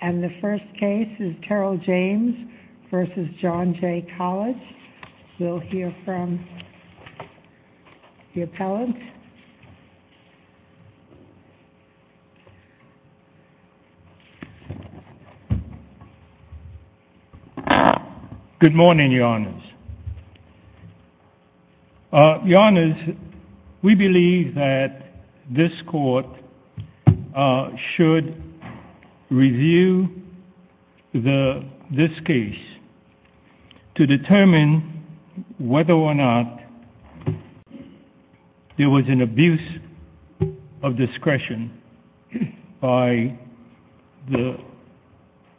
and the first case is Terrell James v. John Jay College. We'll hear from the appellant. Good morning, Your Honors. Your Honors, we believe that this court should review this case to determine whether or not there was an abuse of discretion by the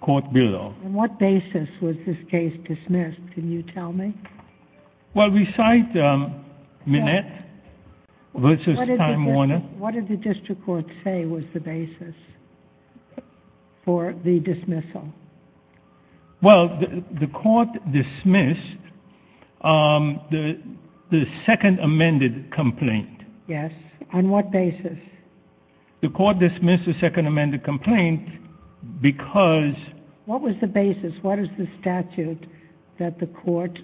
court below. And what basis was this case dismissed, can you tell me? Well, we cite Minette v. Time Warner. What did the district court say was the basis for the dismissal? Well, the court dismissed the second amended complaint. Yes. On what basis? The court dismissed the second amended complaint because... What was the basis? What is the statute that the court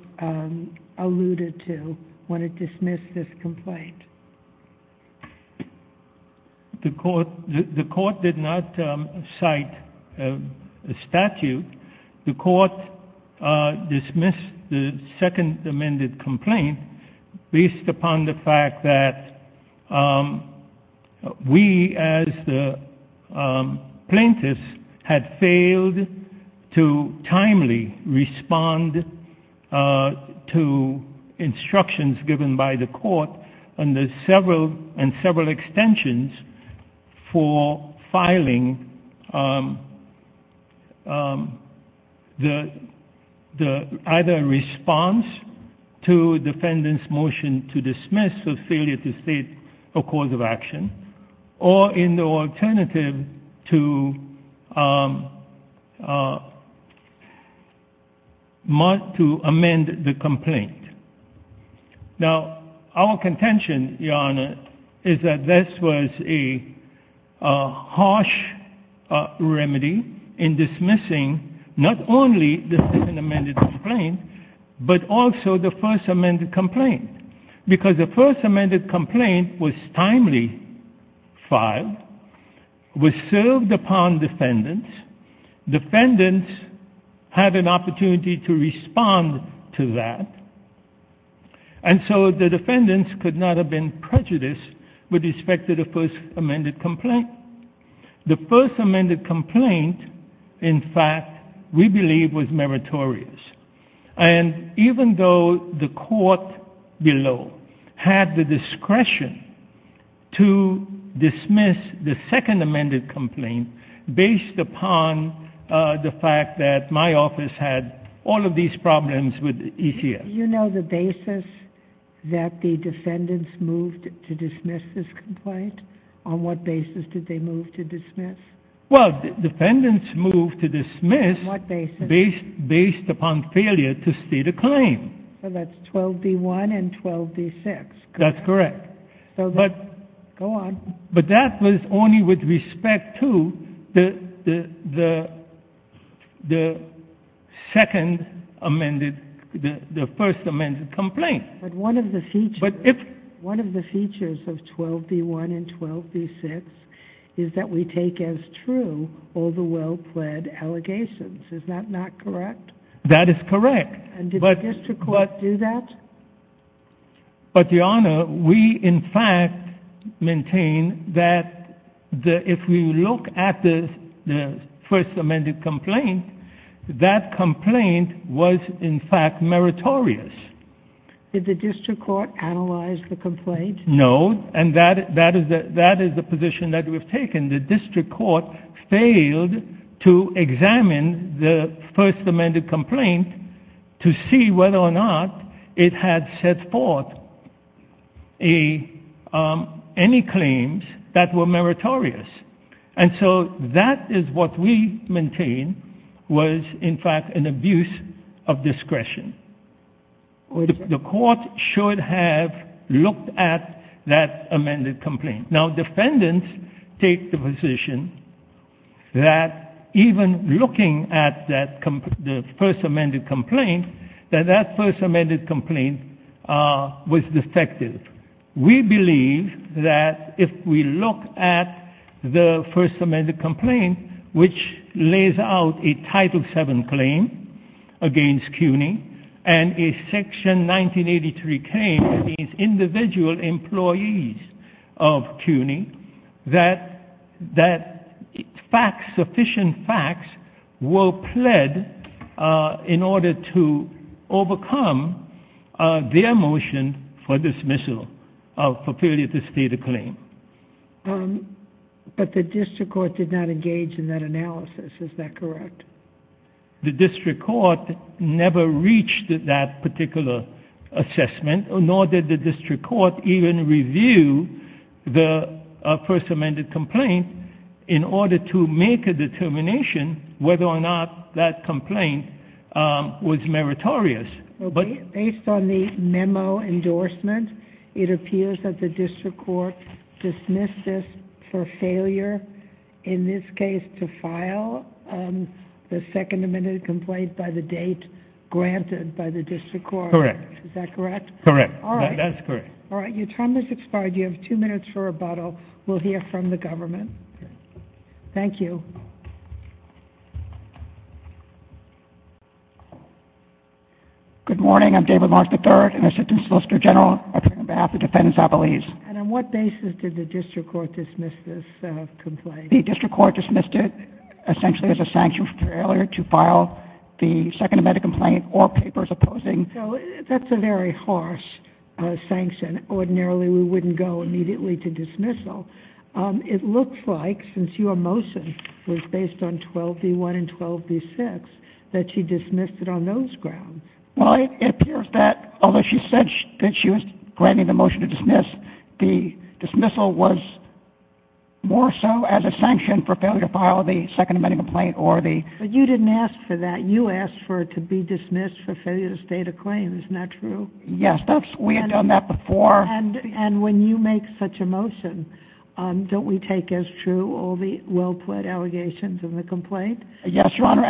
alluded to when it dismissed this complaint? The court did not cite a statute. The court dismissed the second amended complaint based upon the fact that we, as the plaintiffs, had failed to timely respond to instructions given by the court and several extensions for filing either a response to defendant's motion to dismiss a failure to state a cause of action or in the alternative to amend the complaint. Now, our contention, Your Honor, is that this was a harsh remedy in dismissing not only the second amended complaint but also the first amended complaint because the first amended complaint was timely filed, was served upon defendants, defendants had an opportunity to respond to that, and so the defendants could not have been prejudiced with respect to the first amended complaint. The first amended complaint, in fact, we believe was meritorious. And even though the court below had the discretion to dismiss the second amended complaint based upon the fact that my office had all of these problems with ECS. Did you know the basis that the defendants moved to dismiss this complaint? On what basis did they move to dismiss? Well, defendants moved to dismiss based upon failure to state a claim. So that's 12B1 and 12B6, correct? That's correct. Go on. But that was only with respect to the second amended, the first amended complaint. But one of the features of 12B1 and 12B6 is that we take as true all the well-pled allegations. Is that not correct? That is correct. And did the district court do that? But, Your Honor, we, in fact, maintain that if we look at the first amended complaint, that complaint was, in fact, meritorious. Did the district court analyze the complaint? No, and that is the position that we've taken. The district court failed to examine the first amended complaint to see whether or not it had set forth any claims that were meritorious. And so that is what we maintain was, in fact, an abuse of discretion. The court should have looked at that amended complaint. Now, defendants take the position that even looking at the first amended complaint, that that first amended complaint was defective. We believe that if we look at the first amended complaint, which lays out a Title VII claim against CUNY and a Section 1983 claim against individual employees of CUNY, that sufficient facts were pled in order to overcome their motion for dismissal, for failure to state a claim. But the district court did not engage in that analysis. Is that correct? The district court never reached that particular assessment, nor did the district court even review the first amended complaint in order to make a determination whether or not that complaint was meritorious. Based on the memo endorsement, it appears that the district court dismissed this for failure, in this case, to file the second amended complaint by the date granted by the district court. Correct. Is that correct? Correct. That's correct. All right. Your time has expired. You have two minutes for rebuttal. We'll hear from the government. Thank you. Good morning. I'm David Mark III, an Assistant Solicitor General, on behalf of Defendants Appellees. And on what basis did the district court dismiss this complaint? The district court dismissed it essentially as a sanction for failure to file the second amended complaint, or papers opposing. So that's a very harsh sanction. Ordinarily, we wouldn't go immediately to dismissal. It looks like, since your motion was based on 12b-1 and 12b-6, that she dismissed it on those grounds. Well, it appears that, although she said that she was granting the motion to dismiss, the dismissal was more so as a sanction for failure to file the second amended complaint. But you didn't ask for that. You asked for it to be dismissed for failure to state a claim. Isn't that true? Yes. We had done that before. And when you make such a motion, don't we take as true all the well-plaid allegations in the complaint? Yes, Your Honor.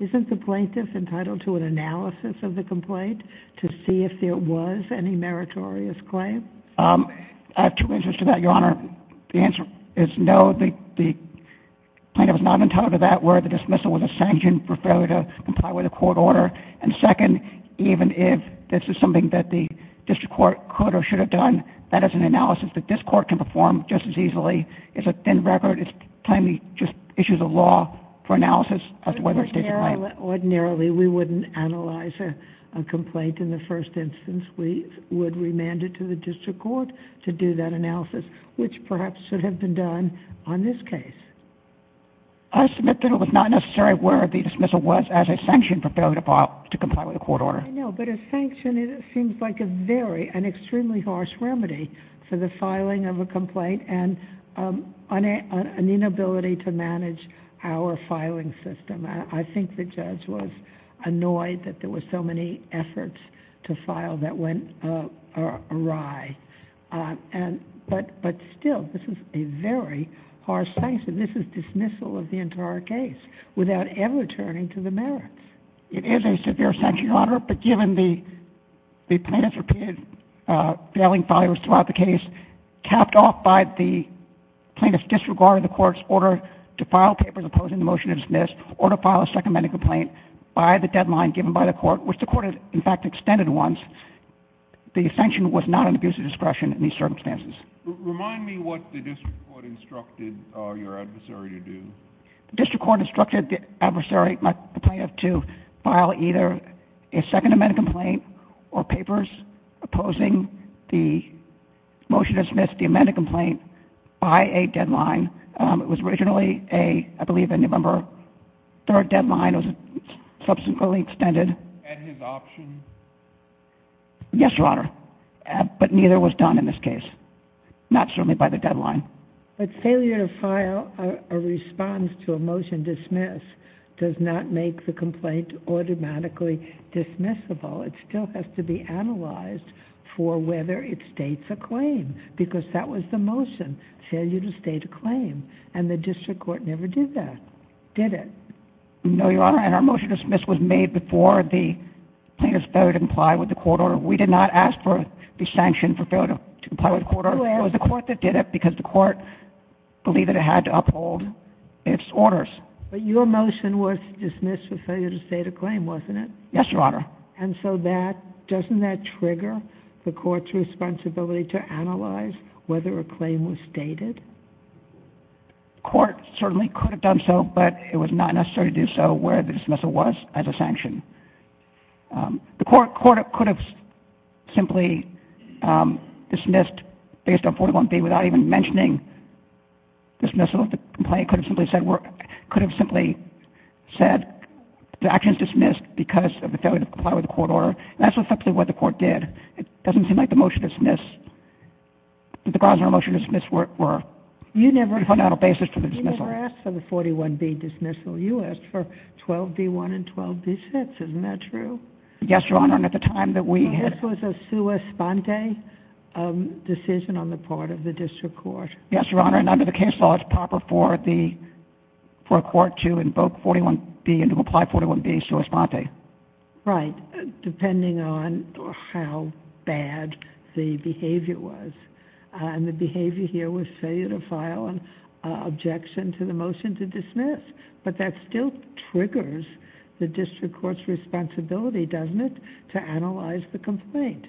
Isn't the plaintiff entitled to an analysis of the complaint to see if there was any meritorious claim? I have two answers to that, Your Honor. The answer is no. The plaintiff is not entitled to that word. The dismissal was a sanction for failure to comply with a court order. And second, even if this is something that the district court could or should have done, that is an analysis that this court can perform just as easily. It's a thin record. It's plainly just issues of law for analysis as to whether it's stated a claim. Ordinarily, we wouldn't analyze a complaint in the first instance. We would remand it to the district court to do that analysis, which perhaps should have been done on this case. I submit that it was not a necessary word. The dismissal was as a sanction for failure to comply with a court order. I know, but a sanction seems like an extremely harsh remedy for the filing of a complaint and an inability to manage our filing system. I think the judge was annoyed that there were so many efforts to file that went awry. But still, this is a very harsh sanction. This is dismissal of the entire case without ever turning to the merits. It is a severe sanction, Your Honor. But given the plaintiff's repeated failing files throughout the case, capped off by the plaintiff's disregard of the court's order to file papers opposing the motion to dismiss or to file a second medical complaint by the deadline given by the court, which the court in fact extended once, the sanction was not an abuse of discretion in these circumstances. Remind me what the district court instructed your adversary to do. The district court instructed the adversary, the plaintiff, to file either a second medical complaint or papers opposing the motion to dismiss the amended complaint by a deadline. It was originally, I believe, a November 3rd deadline. It was subsequently extended. And his option? Yes, Your Honor. But neither was done in this case. Not certainly by the deadline. But failure to file a response to a motion dismiss does not make the complaint automatically dismissible. It still has to be analyzed for whether it states a claim. Because that was the motion, failure to state a claim. And the district court never did that, did it? No, Your Honor. And our motion to dismiss was made before the plaintiff's failure to comply with the court order. We did not ask for the sanction for failure to comply with the court order. It was the court that did it because the court believed that it had to uphold its orders. But your motion was to dismiss for failure to state a claim, wasn't it? Yes, Your Honor. And so that, doesn't that trigger the court's responsibility to analyze whether a claim was stated? The court certainly could have done so, but it was not necessary to do so where the dismissal was as a sanction. The court could have simply dismissed based on 41B without even mentioning dismissal of the complaint. Could have simply said the action is dismissed because of the failure to comply with the court order. And that's effectively what the court did. It doesn't seem like the motion to dismiss, the Grosvenor motion to dismiss were the fundamental basis for the dismissal. You never asked for the 41B dismissal. You asked for 12B1 and 12B6. Isn't that true? Yes, Your Honor. And at the time that we had... This was a sua sponte decision on the part of the district court. Yes, Your Honor. And under the case law, it's proper for a court to invoke 41B and to comply 41B sua sponte. Right, depending on how bad the behavior was. And the behavior here was failure to file an objection to the motion to dismiss. But that still triggers the district court's responsibility, doesn't it, to analyze the complaint?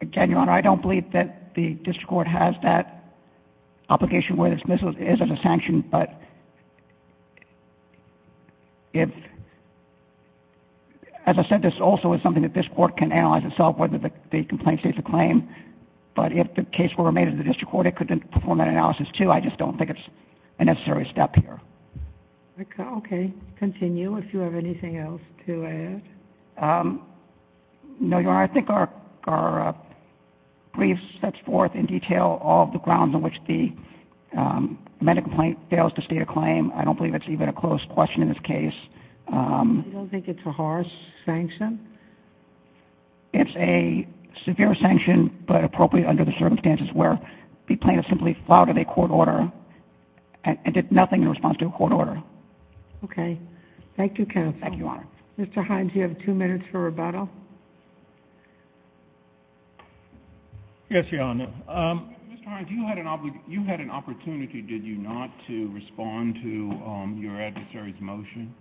Again, Your Honor, I don't believe that the district court has that obligation where the dismissal is as a sanction. But as I said, this also is something that this court can analyze itself whether the complaint states a claim. But if the case were made in the district court, it could perform that analysis, too. I just don't think it's a necessary step here. Okay. Continue if you have anything else to add. No, Your Honor. I think our brief sets forth in detail all the grounds on which the medical complaint fails to state a claim. I don't believe it's even a closed question in this case. You don't think it's a harsh sanction? It's a severe sanction but appropriate under the circumstances where the plaintiff simply flouted a court order and did nothing in response to a court order. Okay. Thank you, counsel. Thank you, Your Honor. Mr. Hines, you have two minutes for rebuttal. Yes, Your Honor. Mr. Hines, you had an opportunity, did you not, to respond to your adversary's motion?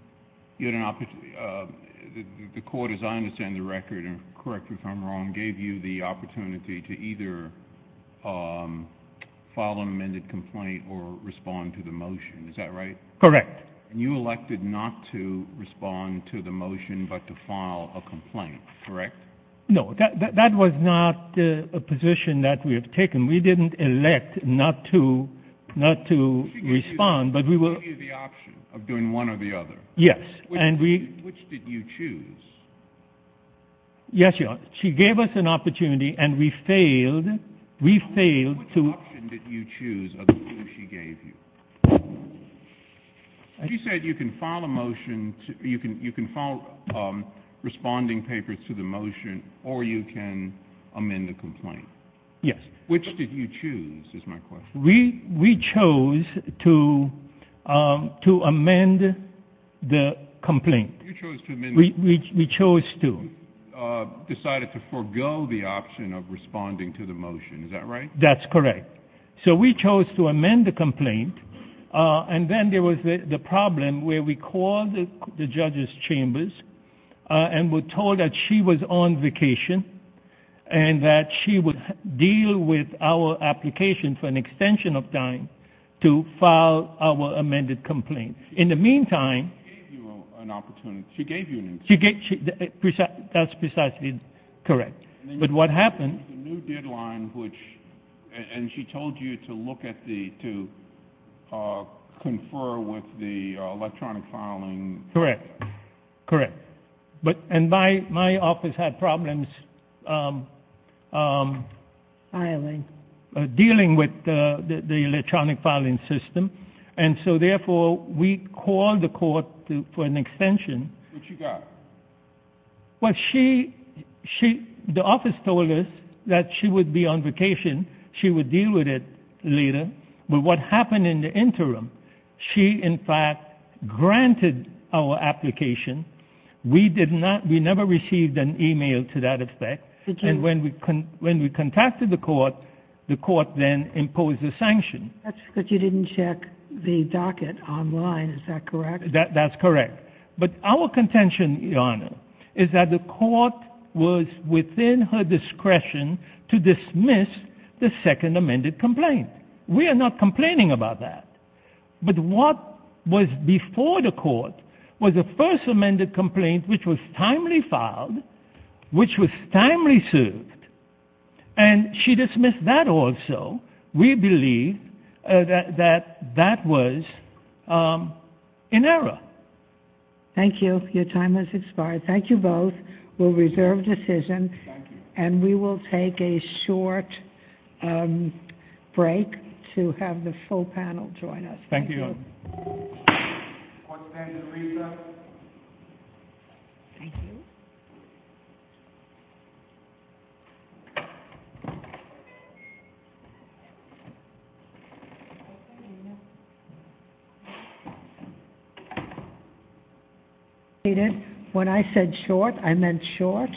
You had an opportunity. The court, as I understand the record, and correct me if I'm wrong, gave you the opportunity to either file an amended complaint or respond to the motion. Is that right? Correct. And you elected not to respond to the motion but to file a complaint, correct? No. That was not a position that we have taken. We didn't elect not to respond. We gave you the option of doing one or the other. Yes. Which did you choose? Yes, Your Honor. She gave us an opportunity and we failed to ---- Which option did you choose of the two she gave you? She said you can file a motion, you can file responding papers to the motion, or you can amend the complaint. Yes. Which did you choose is my question. We chose to amend the complaint. You chose to amend the complaint. We chose to. You decided to forego the option of responding to the motion. Is that right? That's correct. So we chose to amend the complaint and then there was the problem where we called the judge's chambers and were told that she was on vacation and that she would deal with our application for an extension of time to file our amended complaint. In the meantime ---- She gave you an opportunity. She gave you an opportunity. That's precisely correct. But what happened ---- There was a new deadline and she told you to look at the, to confer with the electronic filing. Correct. Correct. And my office had problems ---- Filing. Dealing with the electronic filing system, and so therefore we called the court for an extension. What you got? Well, she, the office told us that she would be on vacation, she would deal with it later. But what happened in the interim, she in fact granted our application. We did not, we never received an email to that effect. And when we contacted the court, the court then imposed a sanction. That's because you didn't check the docket online. Is that correct? That's correct. But our contention, Your Honor, is that the court was within her discretion to dismiss the second amended complaint. We are not complaining about that. But what was before the court was the first amended complaint which was timely filed, which was timely sued. And she dismissed that also. We believe that that was in error. Thank you. Your time has expired. Thank you both. We'll reserve decision. Thank you. And we will take a short break to have the full panel join us. Thank you. When I said short, I meant short.